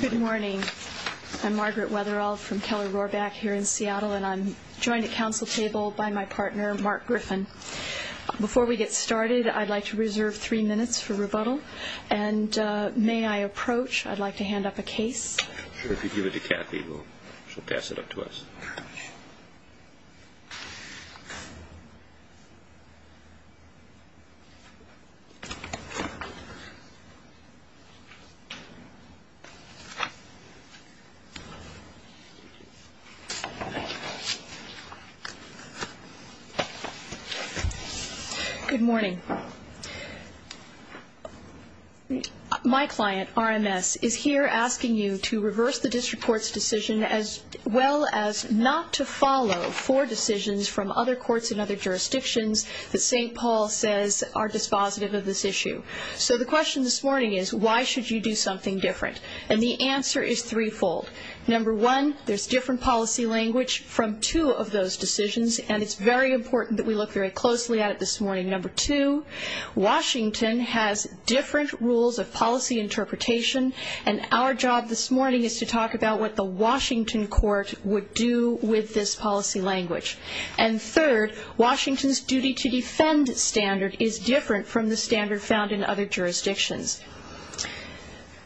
Good morning. I'm Margaret Weatherall from Keller-Rorbach here in Seattle, and I'm joined at council table by my partner, Mark Griffin. Before we get started, I'd like to reserve three minutes for rebuttal, and may I approach? I'd like to hand up a case. Sure. If you give it to Kathy, she'll pass it up to us. Good morning. My client, RMS, is here asking you to reverse the district court's decision as well as not to follow four decisions from other courts in other jurisdictions that St. So the question this morning is, why should you do something different? And the answer is threefold. Number one, there's different policy language from two of those decisions, and it's very important that we look very closely at it this morning. Number two, Washington has different rules of policy interpretation, and our job this morning is to talk about what the Washington court would do with this policy language. And third, Washington's duty to defend standard is different from the standard found in other jurisdictions.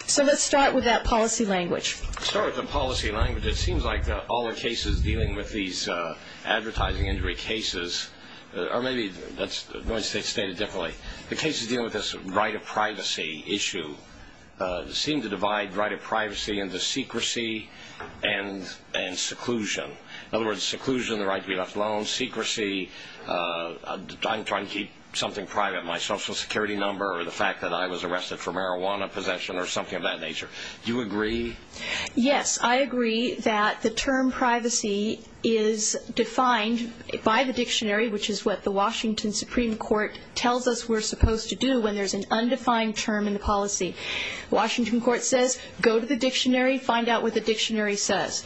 So let's start with that policy language. Let's start with the policy language. It seems like all the cases dealing with these advertising injury cases, or maybe that's stated differently, the cases dealing with this right of privacy issue seem to divide right of privacy into secrecy and seclusion. In other words, seclusion, the right to be left alone, secrecy, I'm trying to keep something private, my social security number or the fact that I was arrested for marijuana possession or something of that nature. Do you agree? Yes, I agree that the term privacy is defined by the dictionary, which is what the Washington Supreme Court tells us we're supposed to do when there's an undefined term in the policy. Washington court says, go to the dictionary, find out what the dictionary says.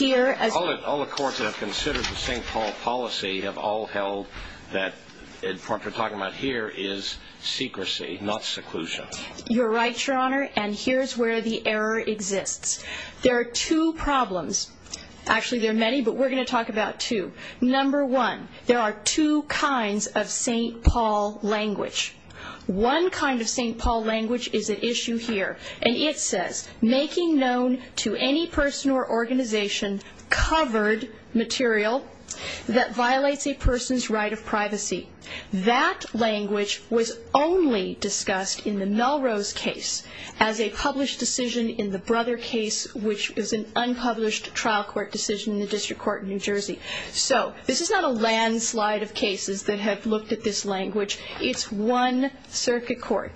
All the courts that have considered the St. Paul policy have all held that what we're talking about here is secrecy, not seclusion. You're right, Your Honor, and here's where the error exists. There are two problems. Actually, there are many, but we're going to talk about two. Number one, there are two kinds of St. Paul language. One kind of St. Paul language is at issue here, and it says, making known to any person or organization covered material that violates a person's right of privacy. That language was only discussed in the Melrose case as a published decision in the Brother case, which is an unpublished trial court decision in the District Court in New Jersey. So this is not a landslide of cases that have looked at this language. It's one circuit court.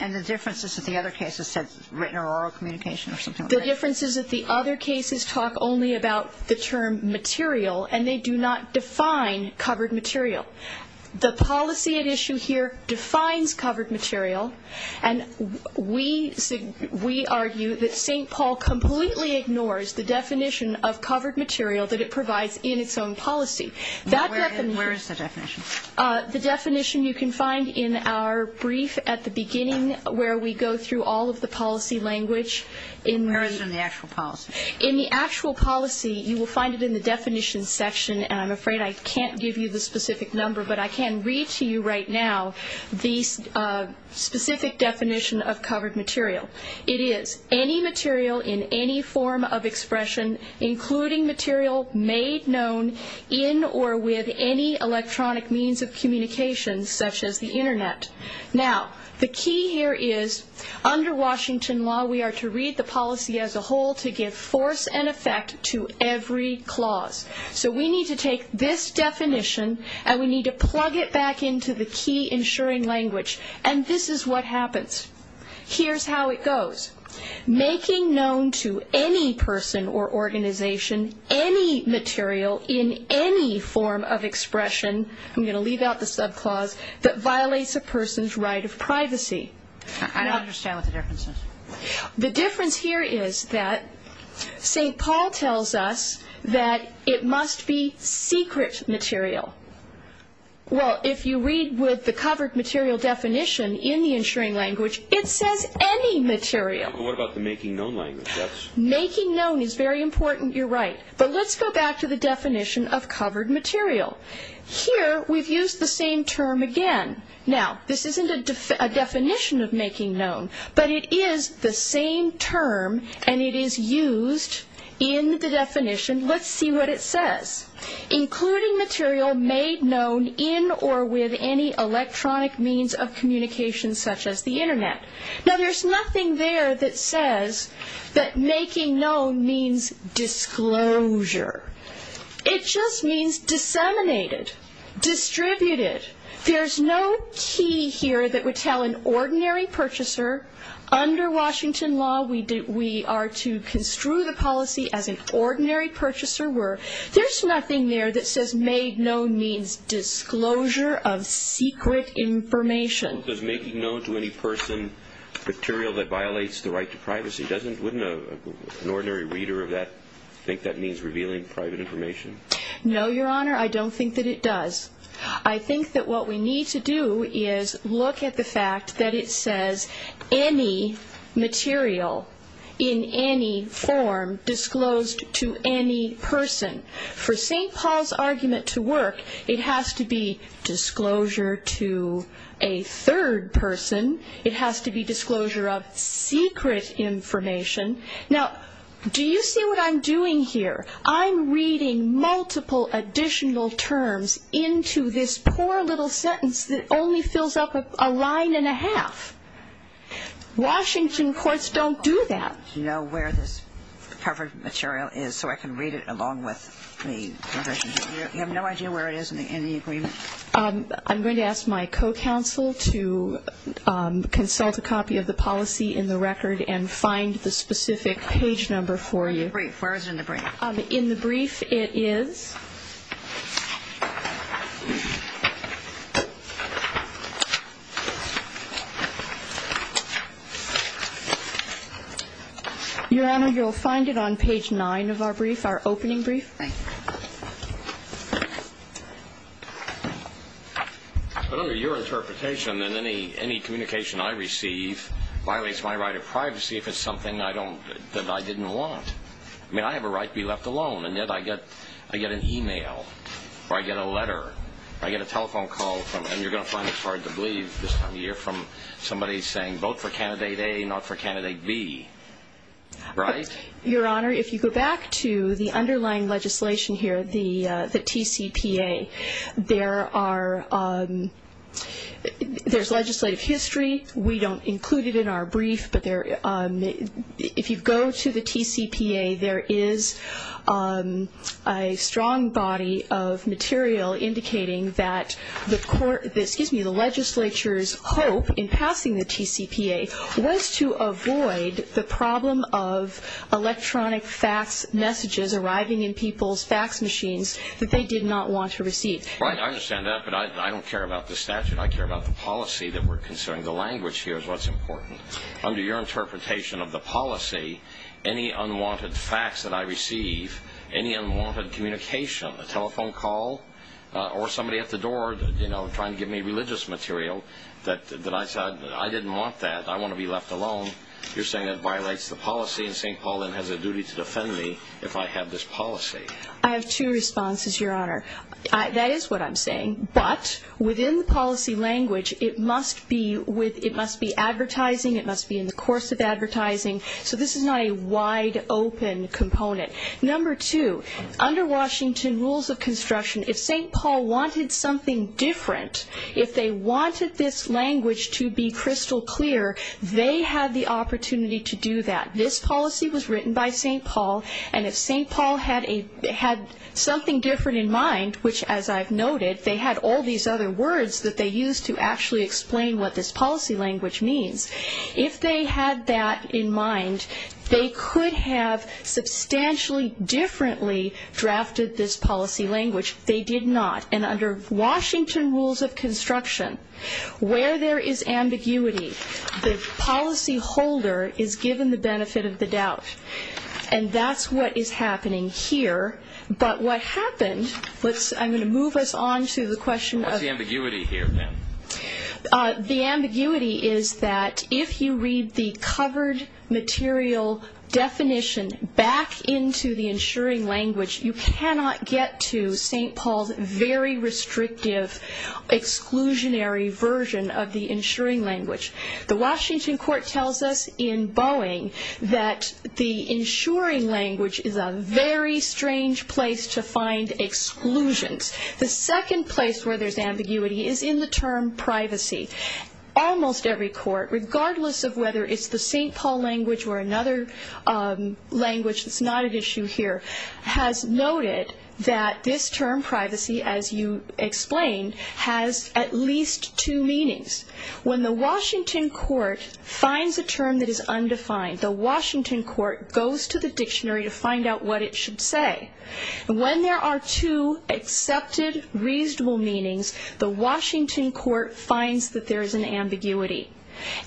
And the differences at the other cases said written or oral communication or something like that? The differences at the other cases talk only about the term material, and they do not define covered material. The policy at issue here defines covered material, and we argue that St. Paul completely ignores the definition of covered material that it provides in its own policy. Now, where is the definition? The definition you can find in our brief at the beginning where we go through all of the policy language. Where is it in the actual policy? In the actual policy, you will find it in the definition section, and I'm afraid I can't give you the specific number, but I can read to you right now the specific definition of covered material. It is any material in any form of expression, including material made known in or with any electronic means of communication, such as the Internet. Now, the key here is under Washington law, we are to read the policy as a whole to give force and effect to every clause. So we need to take this definition, and we need to plug it back into the key ensuring language. And this is what happens. Here's how it goes. Making known to any person or organization any material in any form of expression, I'm going to leave out the subclause, that violates a person's right of privacy. I don't understand what the difference is. The difference here is that St. Paul tells us that it must be secret material. Well, if you read with the covered material definition in the ensuring language, it says any material. But what about the making known language? Making known is very important, you're right. But let's go back to the definition of covered material. Here, we've used the same term again. Now, this isn't a definition of making known, but it is the same term, and it is used in the definition. Let's see what it says. Including material made known in or with any electronic means of communication such as the internet. Now, there's nothing there that says that making known means disclosure. It just means disseminated, distributed. There's no key here that would tell an ordinary purchaser, under Washington law, we are to construe the policy as an ordinary purchaser were. There's nothing there that says made known means disclosure of secret information. Does making known to any person material that violates the right to privacy? Wouldn't an ordinary reader of that think that means revealing private information? No, Your Honor, I don't think that it does. I think that what we need to do is look at the fact that it says any material in any form disclosed to any person. For St. Paul's argument to work, it has to be disclosure to a third person. It has to be disclosure of secret information. Now, do you see what I'm doing here? I'm reading multiple additional terms into this poor little sentence that only fills up a line and a half. Washington courts don't do that. Do you know where this covered material is so I can read it along with the provision? You have no idea where it is in the agreement? I'm going to ask my co-counsel to consult a copy of the policy in the record and find the specific page number for you. Where is it in the brief? In the brief, it is... Your Honor, you'll find it on page 9 of our brief, our opening brief. But under your interpretation, then any communication I receive violates my right of privacy if it's something that I didn't want. I mean, I have a right to be left alone, and yet I get an e-mail or I get a letter. I get a telephone call from, and you're going to find this hard to believe this time of year, from somebody saying, vote for candidate A, not for candidate B. Right? Your Honor, if you go back to the underlying legislation here, the TCPA, there's legislative history. We don't include it in our brief. If you go to the TCPA, there is a strong body of material indicating that the legislature's hope in passing the TCPA was to avoid the problem of electronic fax messages arriving in people's fax machines that they did not want to receive. I understand that, but I don't care about the statute. I care about the policy that we're considering. The language here is what's important. Under your interpretation of the policy, any unwanted fax that I receive, any unwanted communication, a telephone call, or somebody at the door trying to give me religious material that I said, I didn't want that, I want to be left alone, you're saying that violates the policy and saying Paul Lynn has a duty to defend me if I have this policy. I have two responses, Your Honor. That is what I'm saying. But within the policy language, it must be advertising, it must be in the course of advertising. So this is not a wide-open component. Number two, under Washington rules of construction, if St. Paul wanted something different, if they wanted this language to be crystal clear, they had the opportunity to do that. This policy was written by St. Paul, and if St. Paul had something different in mind, which, as I've noted, they had all these other words that they used to actually explain what this policy language means, if they had that in mind, they could have substantially differently drafted this policy language. They did not. And under Washington rules of construction, where there is ambiguity, the policyholder is given the benefit of the doubt. And that's what is happening here. But what happened, I'm going to move us on to the question of What's the ambiguity here, then? The ambiguity is that if you read the covered material definition back into the insuring language, you cannot get to St. Paul's very restrictive, exclusionary version of the insuring language. The Washington court tells us in Boeing that the insuring language is a very strange place to find exclusions. The second place where there's ambiguity is in the term privacy. Almost every court, regardless of whether it's the St. Paul language or another language that's not at issue here, has noted that this term privacy, as you explained, has at least two meanings. When the Washington court finds a term that is undefined, the Washington court goes to the dictionary to find out what it should say. And when there are two accepted, reasonable meanings, the Washington court finds that there is an ambiguity.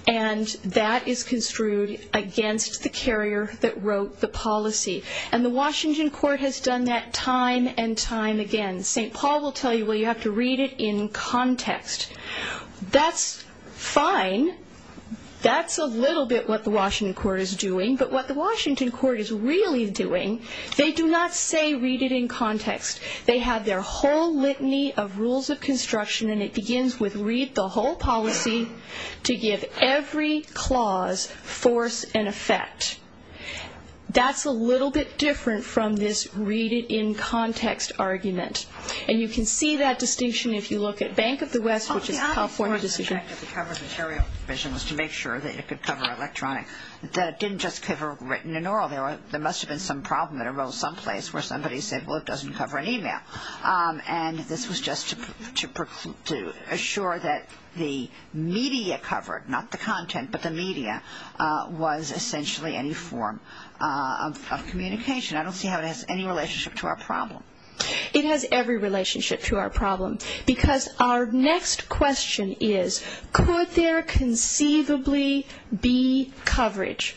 And that is construed against the carrier that wrote the policy. And the Washington court has done that time and time again. St. Paul will tell you, well, you have to read it in context. That's fine. That's a little bit what the Washington court is doing. But what the Washington court is really doing, they do not say read it in context. They have their whole litany of rules of construction, and it begins with read the whole policy to give every clause force and effect. That's a little bit different from this read it in context argument. And you can see that distinction if you look at Bank of the West, which is a California decision. The cover material provision was to make sure that it could cover electronic. It didn't just cover written and oral. There must have been some problem that arose someplace where somebody said, well, it doesn't cover an email. And this was just to assure that the media covered, not the content, but the media was essentially any form of communication. I don't see how it has any relationship to our problem. It has every relationship to our problem because our next question is, could there conceivably be coverage?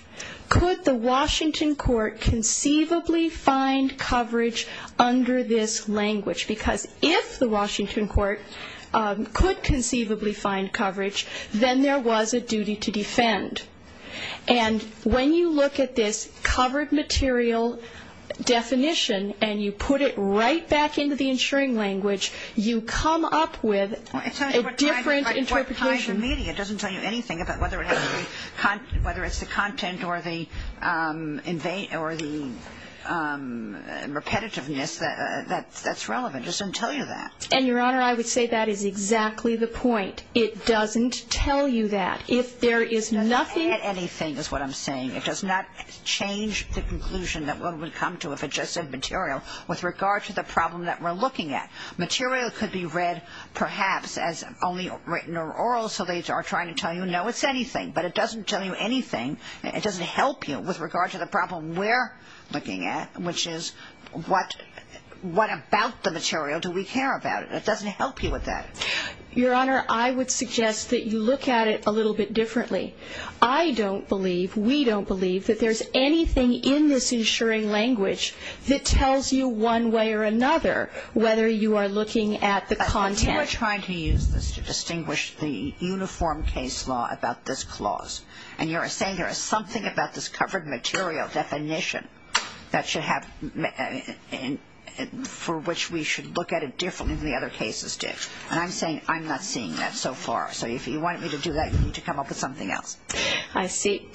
Could the Washington court conceivably find coverage under this language? Because if the Washington court could conceivably find coverage, then there was a duty to defend. And when you look at this covered material definition and you put it right back into the insuring language, you come up with a different interpretation. It doesn't tell you anything about whether it's the content or the repetitiveness that's relevant. It doesn't tell you that. And, Your Honor, I would say that is exactly the point. It doesn't tell you that. If there is nothing at anything is what I'm saying. It does not change the conclusion that one would come to if it just said material with regard to the problem that we're looking at. Material could be read perhaps as only written or oral, so they are trying to tell you, no, it's anything. But it doesn't tell you anything. It doesn't help you with regard to the problem we're looking at, which is what about the material do we care about? It doesn't help you with that. Your Honor, I would suggest that you look at it a little bit differently. I don't believe, we don't believe, that there's anything in this insuring language that tells you one way or another whether you are looking at the content. But you are trying to use this to distinguish the uniform case law about this clause. And you're saying there is something about this covered material definition that should have for which we should look at it differently than the other cases did. And I'm saying I'm not seeing that so far. So if you want me to do that, you need to come up with something else. I see.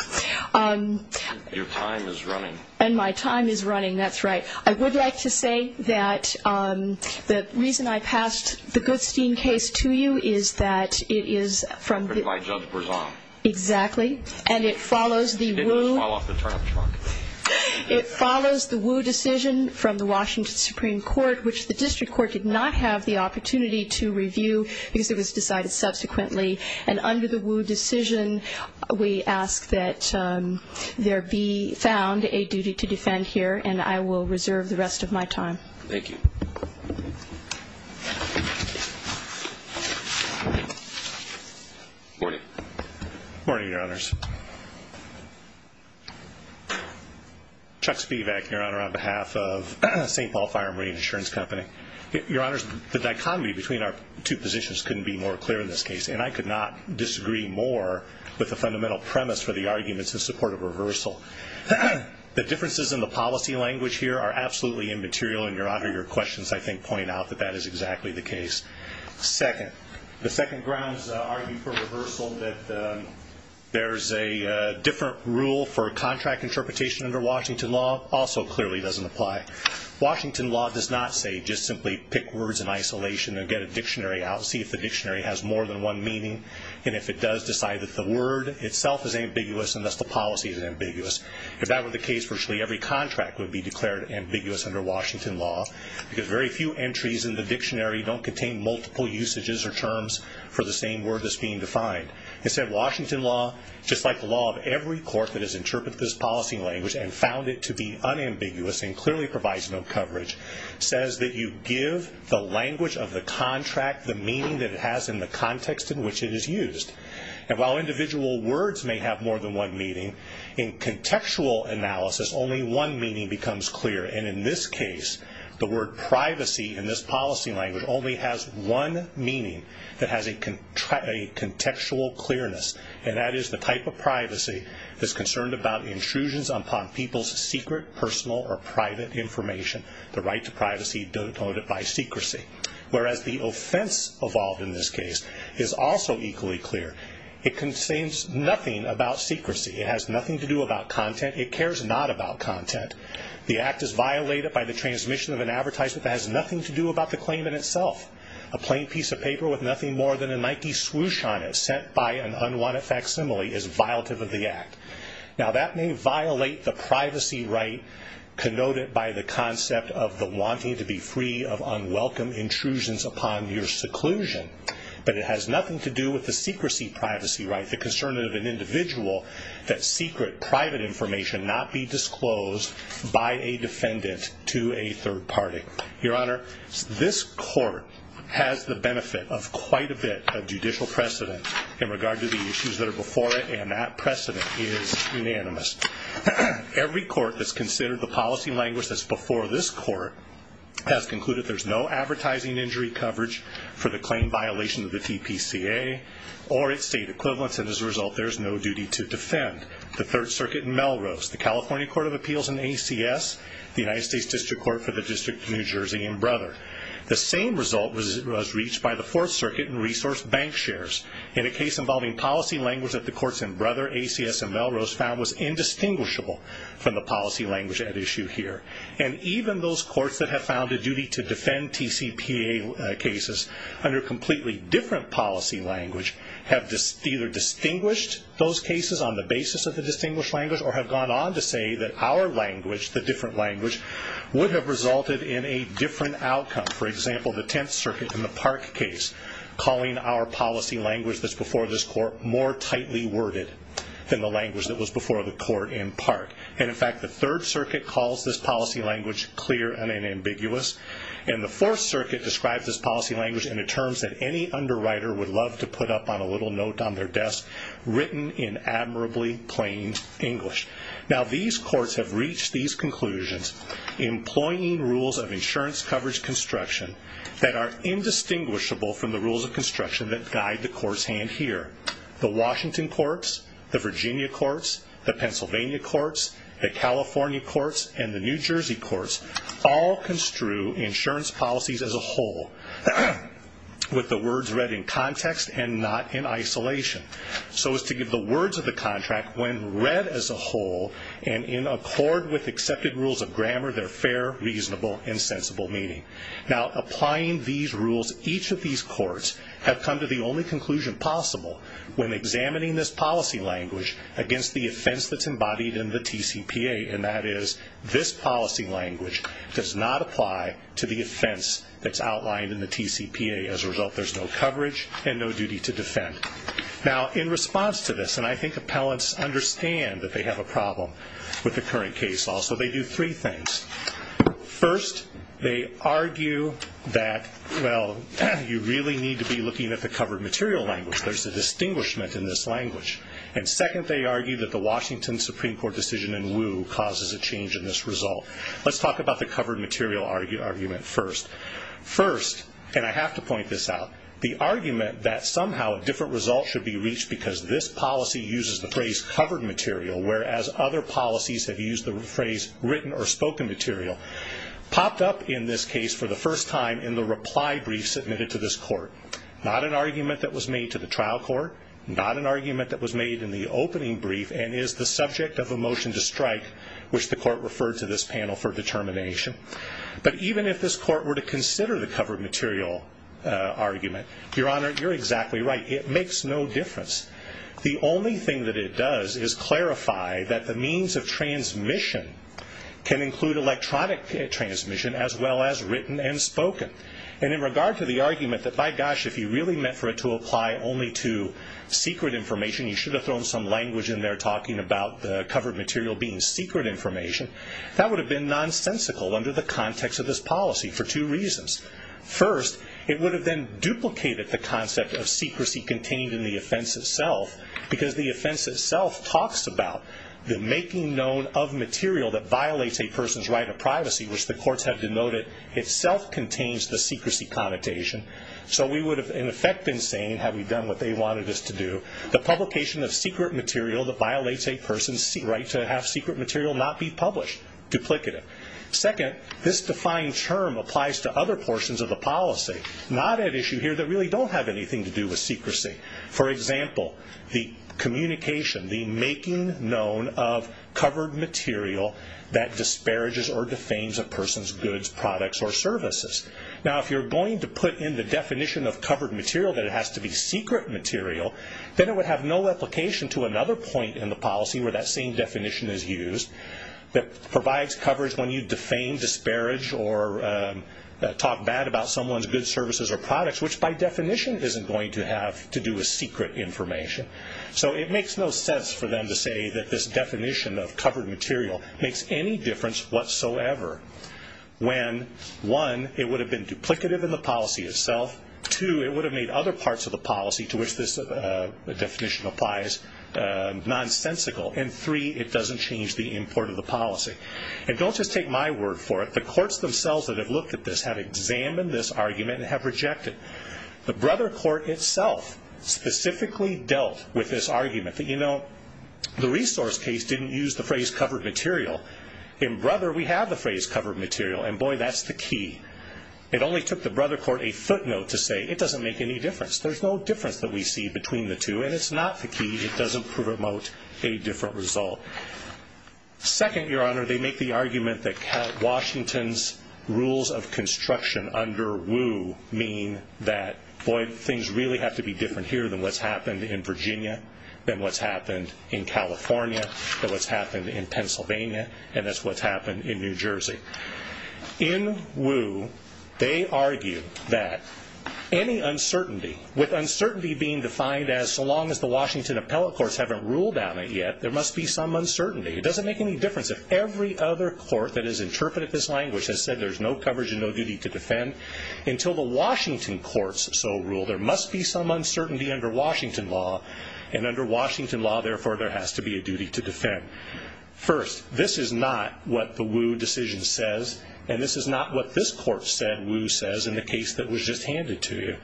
Your time is running. And my time is running. That's right. I would like to say that the reason I passed the Goodstein case to you is that it is from the My judge was on. Exactly. And it follows the It didn't fall off the turnip truck. It follows the Wu decision from the Washington Supreme Court, which the district court did not have the opportunity to review because it was decided subsequently. And under the Wu decision, we ask that there be found a duty to defend here. And I will reserve the rest of my time. Thank you. Morning. Morning, Your Honors. Chuck Spivak, Your Honor, on behalf of St. Paul Fire and Marine Insurance Company. Your Honors, the dichotomy between our two positions couldn't be more clear in this case. And I could not disagree more with the fundamental premise for the arguments in support of reversal. The differences in the policy language here are absolutely immaterial. And, Your Honor, your questions, I think, point out that that is exactly the case. Second, the second grounds argue for reversal that there is a different rule for contract interpretation under Washington law also clearly doesn't apply. Washington law does not say just simply pick words in isolation and get a dictionary out, see if the dictionary has more than one meaning, and if it does, decide that the word itself is ambiguous and thus the policy is ambiguous. If that were the case, virtually every contract would be declared ambiguous under Washington law because very few entries in the dictionary don't contain multiple usages or terms for the same word that's being defined. Instead, Washington law, just like the law of every court that has interpreted this policy language and found it to be unambiguous and clearly provides no coverage, says that you give the language of the contract the meaning that it has in the context in which it is used. And while individual words may have more than one meaning, in contextual analysis, only one meaning becomes clear. And in this case, the word privacy in this policy language only has one meaning that has a contextual clearness, and that is the type of privacy that's concerned about intrusions upon people's secret, personal, or private information, the right to privacy denoted by secrecy. Whereas the offense involved in this case is also equally clear. It contains nothing about secrecy. It has nothing to do about content. It cares not about content. The act is violated by the transmission of an advertisement that has nothing to do about the claim in itself. A plain piece of paper with nothing more than a Nike swoosh on it sent by an unwanted facsimile is violative of the act. Now, that may violate the privacy right connoted by the concept of the wanting to be free of unwelcome intrusions upon your seclusion, but it has nothing to do with the secrecy privacy right, the concern of an individual that secret, private information not be disclosed by a defendant to a third party. Your Honor, this court has the benefit of quite a bit of judicial precedent in regard to the issues that are before it, and that precedent is unanimous. Every court that's considered the policy language that's before this court has concluded there's no advertising injury coverage for the claim violation of the TPCA or its state equivalents, and as a result, there's no duty to defend. The Third Circuit in Melrose, the California Court of Appeals in ACS, the United States District Court for the District of New Jersey in Brother. The same result was reached by the Fourth Circuit in resource bank shares in a case involving policy language that the courts in Brother, ACS, and Melrose found was indistinguishable from the policy language at issue here. And even those courts that have found a duty to defend TCPA cases under completely different policy language have either distinguished those cases on the basis of the distinguished language or have gone on to say that our language, the different language, would have resulted in a different outcome. For example, the Tenth Circuit in the Park case calling our policy language that's before this court more tightly worded than the language that was before the court in Park. And in fact, the Third Circuit calls this policy language clear and ambiguous. And the Fourth Circuit describes this policy language in the terms that any underwriter would love to put up on a little note on their desk, written in admirably plain English. Now, these courts have reached these conclusions, employing rules of insurance coverage construction that are indistinguishable from the rules of construction that guide the court's hand here. The Washington Courts, the Virginia Courts, the Pennsylvania Courts, the California Courts, and the New Jersey Courts all construe insurance policies as a whole with the words read in context and not in isolation so as to give the words of the contract, when read as a whole and in accord with accepted rules of grammar, their fair, reasonable, and sensible meaning. Now, applying these rules, each of these courts have come to the only conclusion possible when examining this policy language against the offense that's embodied in the TCPA, and that is this policy language does not apply to the offense that's outlined in the TCPA. As a result, there's no coverage and no duty to defend. Now, in response to this, and I think appellants understand that they have a problem with the current case law, so they do three things. First, they argue that, well, you really need to be looking at the covered material language. There's a distinguishment in this language. And second, they argue that the Washington Supreme Court decision in Wu causes a change in this result. Let's talk about the covered material argument first. First, and I have to point this out, the argument that somehow a different result should be reached because this policy uses the phrase covered material, whereas other policies have used the phrase written or spoken material, popped up in this case for the first time in the reply brief submitted to this court. Not an argument that was made to the trial court, not an argument that was made in the opening brief, and is the subject of a motion to strike, which the court referred to this panel for determination. But even if this court were to consider the covered material argument, Your Honor, you're exactly right. It makes no difference. The only thing that it does is clarify that the means of transmission can include electronic transmission as well as written and spoken. And in regard to the argument that, by gosh, if you really meant for it to apply only to secret information, you should have thrown some language in there talking about the covered material being secret information, that would have been nonsensical under the context of this policy for two reasons. First, it would have then duplicated the concept of secrecy contained in the offense itself because the offense itself talks about the making known of material that violates a person's right to privacy, which the courts have denoted itself contains the secrecy connotation. So we would have, in effect, been saying, had we done what they wanted us to do, the publication of secret material that violates a person's right to have secret material not be published, duplicative. Second, this defined term applies to other portions of the policy, not at issue here, that really don't have anything to do with secrecy. For example, the communication, the making known of covered material that disparages or defames a person's goods, products, or services. Now, if you're going to put in the definition of covered material that it has to be secret material, then it would have no application to another point in the policy where that same definition is used that provides coverage when you defame, disparage, or talk bad about someone's goods, services, or products, which by definition isn't going to have to do with secret information. So it makes no sense for them to say that this definition of covered material makes any difference whatsoever when, one, it would have been duplicative in the policy itself, two, it would have made other parts of the policy to which this definition applies nonsensical, and three, it doesn't change the import of the policy. And don't just take my word for it. The courts themselves that have looked at this have examined this argument and have rejected it. The Brother Court itself specifically dealt with this argument that, you know, the resource case didn't use the phrase covered material. In Brother, we have the phrase covered material, and boy, that's the key. It only took the Brother Court a footnote to say it doesn't make any difference. There's no difference that we see between the two, and it's not the key. It doesn't promote a different result. Second, Your Honor, they make the argument that Washington's rules of construction under Woo mean that, boy, things really have to be different here than what's happened in Virginia, than what's happened in California, than what's happened in Pennsylvania, and that's what's happened in New Jersey. In Woo, they argue that any uncertainty, with uncertainty being defined as so long as the Washington appellate courts haven't ruled on it yet, there must be some uncertainty. It doesn't make any difference if every other court that has interpreted this language has said there's no coverage and no duty to defend until the Washington courts so rule. There must be some uncertainty under Washington law, and under Washington law, therefore, there has to be a duty to defend. First, this is not what the Woo decision says, and this is not what this court said Woo says in the case that was just handed to you.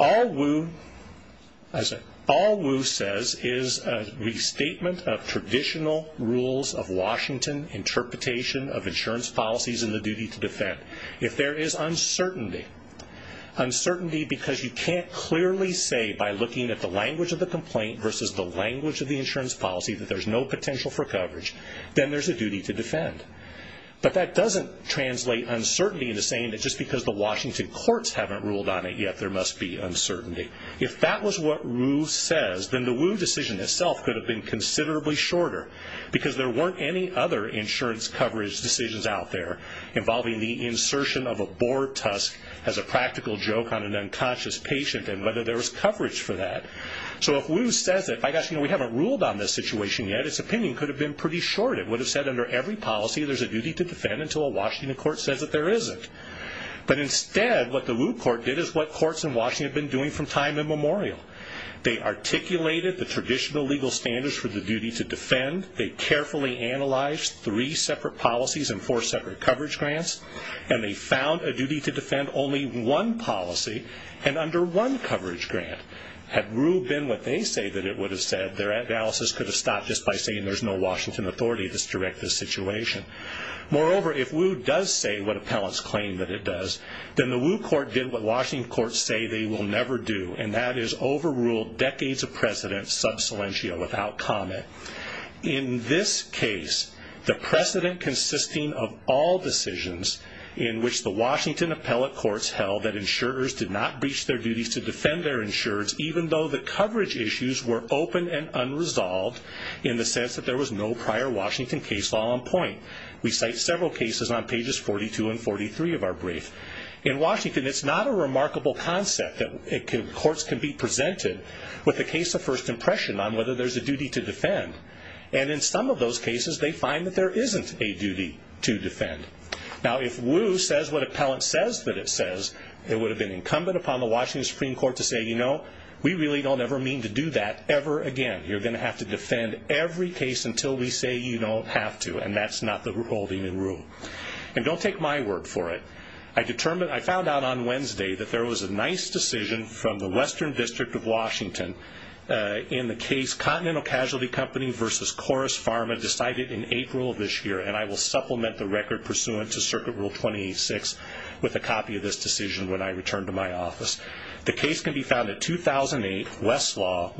All Woo says is a restatement of traditional rules of Washington interpretation of insurance policies and the duty to defend. If there is uncertainty, uncertainty because you can't clearly say by looking at the language of the complaint versus the language of the insurance policy that there's no potential for coverage, then there's a duty to defend. But that doesn't translate uncertainty into saying that just because the Washington courts haven't ruled on it yet, there must be uncertainty. If that was what Woo says, then the Woo decision itself could have been considerably shorter because there weren't any other insurance coverage decisions out there involving the insertion of a boar tusk as a practical joke on an unconscious patient and whether there was coverage for that. So if Woo says it, by gosh, we haven't ruled on this situation yet, its opinion could have been pretty short. It would have said under every policy there's a duty to defend until a Washington court says that there isn't. But instead, what the Woo court did is what courts in Washington have been doing from time immemorial. They articulated the traditional legal standards for the duty to defend. They carefully analyzed three separate policies and four separate coverage grants, and they found a duty to defend only one policy and under one coverage grant. Had Woo been what they say that it would have said, their analysis could have stopped just by saying there's no Washington authority to direct this situation. Moreover, if Woo does say what appellants claim that it does, then the Woo court did what Washington courts say they will never do, and that is overrule decades of precedent sub silentio without comment. In this case, the precedent consisting of all decisions in which the Washington appellate courts held that insurers did not breach their duties to defend their insureds were open and unresolved in the sense that there was no prior Washington case law on point. We cite several cases on pages 42 and 43 of our brief. In Washington, it's not a remarkable concept that courts can be presented with a case of first impression on whether there's a duty to defend, and in some of those cases they find that there isn't a duty to defend. Now, if Woo says what appellant says that it says, it would have been incumbent upon the Washington Supreme Court to say, you know, we really don't ever mean to do that ever again. You're going to have to defend every case until we say you don't have to, and that's not the holding in rule. And don't take my word for it. I found out on Wednesday that there was a nice decision from the Western District of Washington in the case Continental Casualty Company v. Chorus Pharma decided in April of this year, and I will supplement the record pursuant to Circuit Rule 26 with a copy of this decision when I return to my office. The case can be found at 2008 Westlaw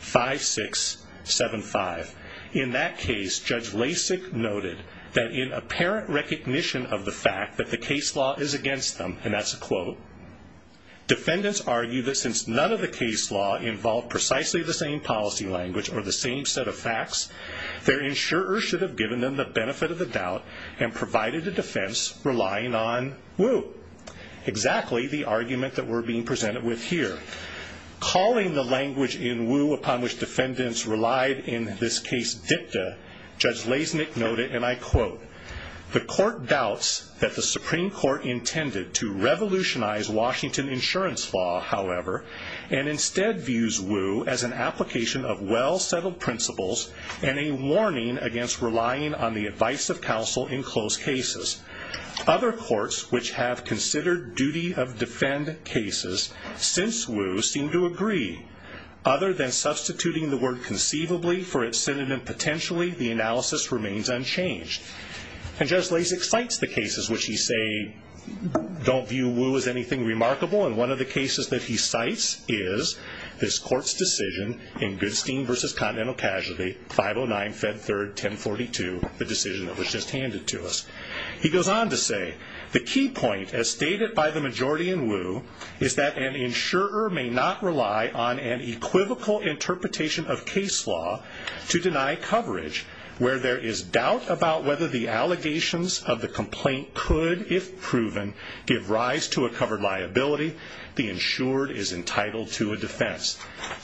180-5675. In that case, Judge Lasik noted that in apparent recognition of the fact that the case law is against them, and that's a quote, defendants argue that since none of the case law involved precisely the same policy language or the same set of facts, their insurers should have given them the benefit of the doubt and provided a defense relying on Woo. Quote, exactly the argument that we're being presented with here. Calling the language in Woo upon which defendants relied in this case dicta, Judge Lasik noted, and I quote, the court doubts that the Supreme Court intended to revolutionize Washington insurance law, however, and instead views Woo as an application of well-settled principles and a warning against relying on the advice of counsel in close cases. Other courts which have considered duty-of-defend cases since Woo seem to agree. Other than substituting the word conceivably for its synonym potentially, the analysis remains unchanged. And Judge Lasik cites the cases which he say don't view Woo as anything remarkable, and one of the cases that he cites is this court's decision in Goodstein v. Continental Casualty, 509 Fed 3rd, 1042, the decision that was just handed to us. He goes on to say, the key point, as stated by the majority in Woo, is that an insurer may not rely on an equivocal interpretation of case law to deny coverage where there is doubt about whether the allegations of the complaint could, if proven, give rise to a covered liability. The insured is entitled to a defense.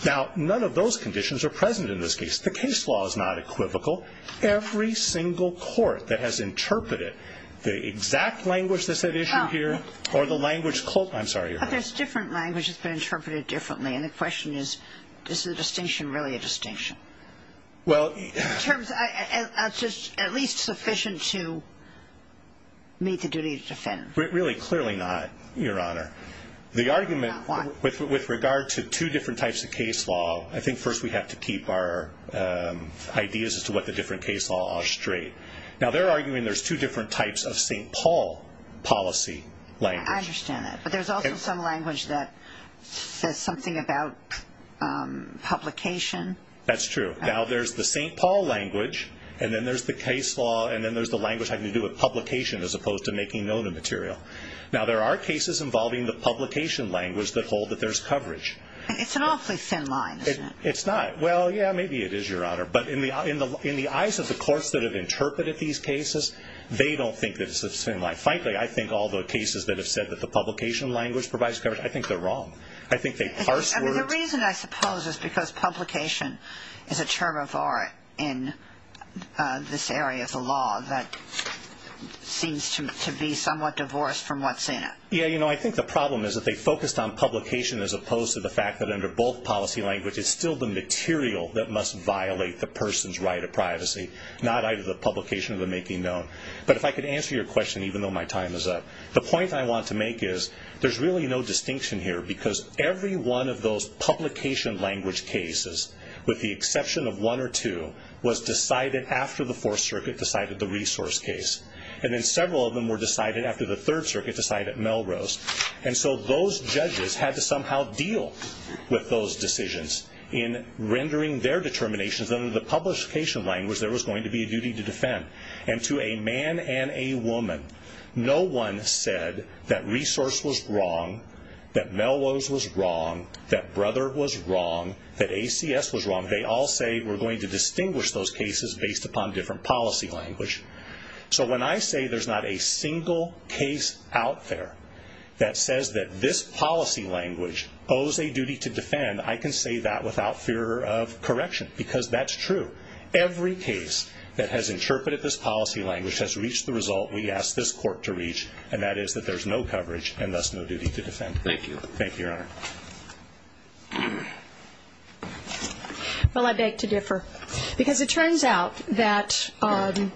Now, none of those conditions are present in this case. The case law is not equivocal. Every single court that has interpreted the exact language that's at issue here, or the language, I'm sorry. But there's different language that's been interpreted differently, and the question is, is the distinction really a distinction? In terms of at least sufficient to meet the duty-of-defend. Really, clearly not, Your Honor. The argument with regard to two different types of case law, I think first we have to keep our ideas as to what the different case laws are straight. Now, they're arguing there's two different types of St. Paul policy language. I understand that. But there's also some language that says something about publication. That's true. Now, there's the St. Paul language, and then there's the case law, and then there's the language having to do with publication as opposed to making known a material. Now, there are cases involving the publication language that hold that there's coverage. It's an awfully thin line, isn't it? It's not. Well, yeah, maybe it is, Your Honor. But in the eyes of the courts that have interpreted these cases, they don't think it's a thin line. Frankly, I think all the cases that have said that the publication language provides coverage, I think they're wrong. I think they parse words. The reason, I suppose, is because publication is a term of art in this area of the law that seems to be somewhat divorced from what's in it. Yeah, you know, I think the problem is that they focused on publication as opposed to the fact that under both policy languages, it's still the material that must violate the person's right of privacy, not either the publication or the making known. But if I could answer your question, even though my time is up, the point I want to make is there's really no distinction here because every one of those publication language cases, with the exception of one or two, was decided after the Fourth Circuit decided the resource case. And then several of them were decided after the Third Circuit decided Melrose. And so those judges had to somehow deal with those decisions in rendering their determinations that under the publication language there was going to be a duty to defend. And to a man and a woman, no one said that resource was wrong, that Melrose was wrong, that Brother was wrong, that ACS was wrong. They all say we're going to distinguish those cases based upon different policy language. So when I say there's not a single case out there that says that this policy language owes a duty to defend, I can say that without fear of correction because that's true. Every case that has interpreted this policy language has reached the result we asked this court to reach, and that is that there's no coverage and thus no duty to defend. Thank you. Thank you, Your Honor. Well, I beg to differ. Because it turns out that on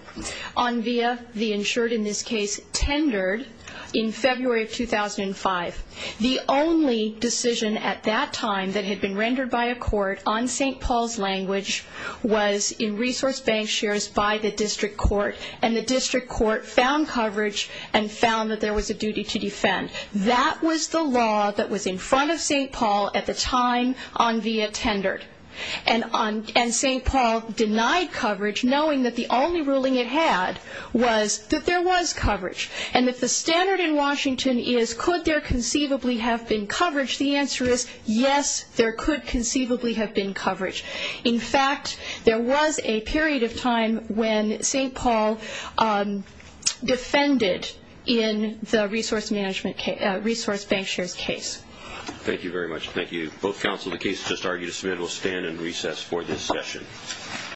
via the insured in this case tendered in February of 2005, the only decision at that time that had been rendered by a court on St. Paul's language was in resource bank shares by the district court, and the district court found coverage and found that there was a duty to defend. That was the law that was in front of St. Paul at the time on via tendered, and St. Paul denied coverage knowing that the only ruling it had was that there was coverage and that the standard in Washington is could there conceivably have been coverage? The answer is yes, there could conceivably have been coverage. In fact, there was a period of time when St. Paul defended in the resource bank shares case. Thank you very much. Thank you to both counsel. The case has just argued. It will stand in recess for this session.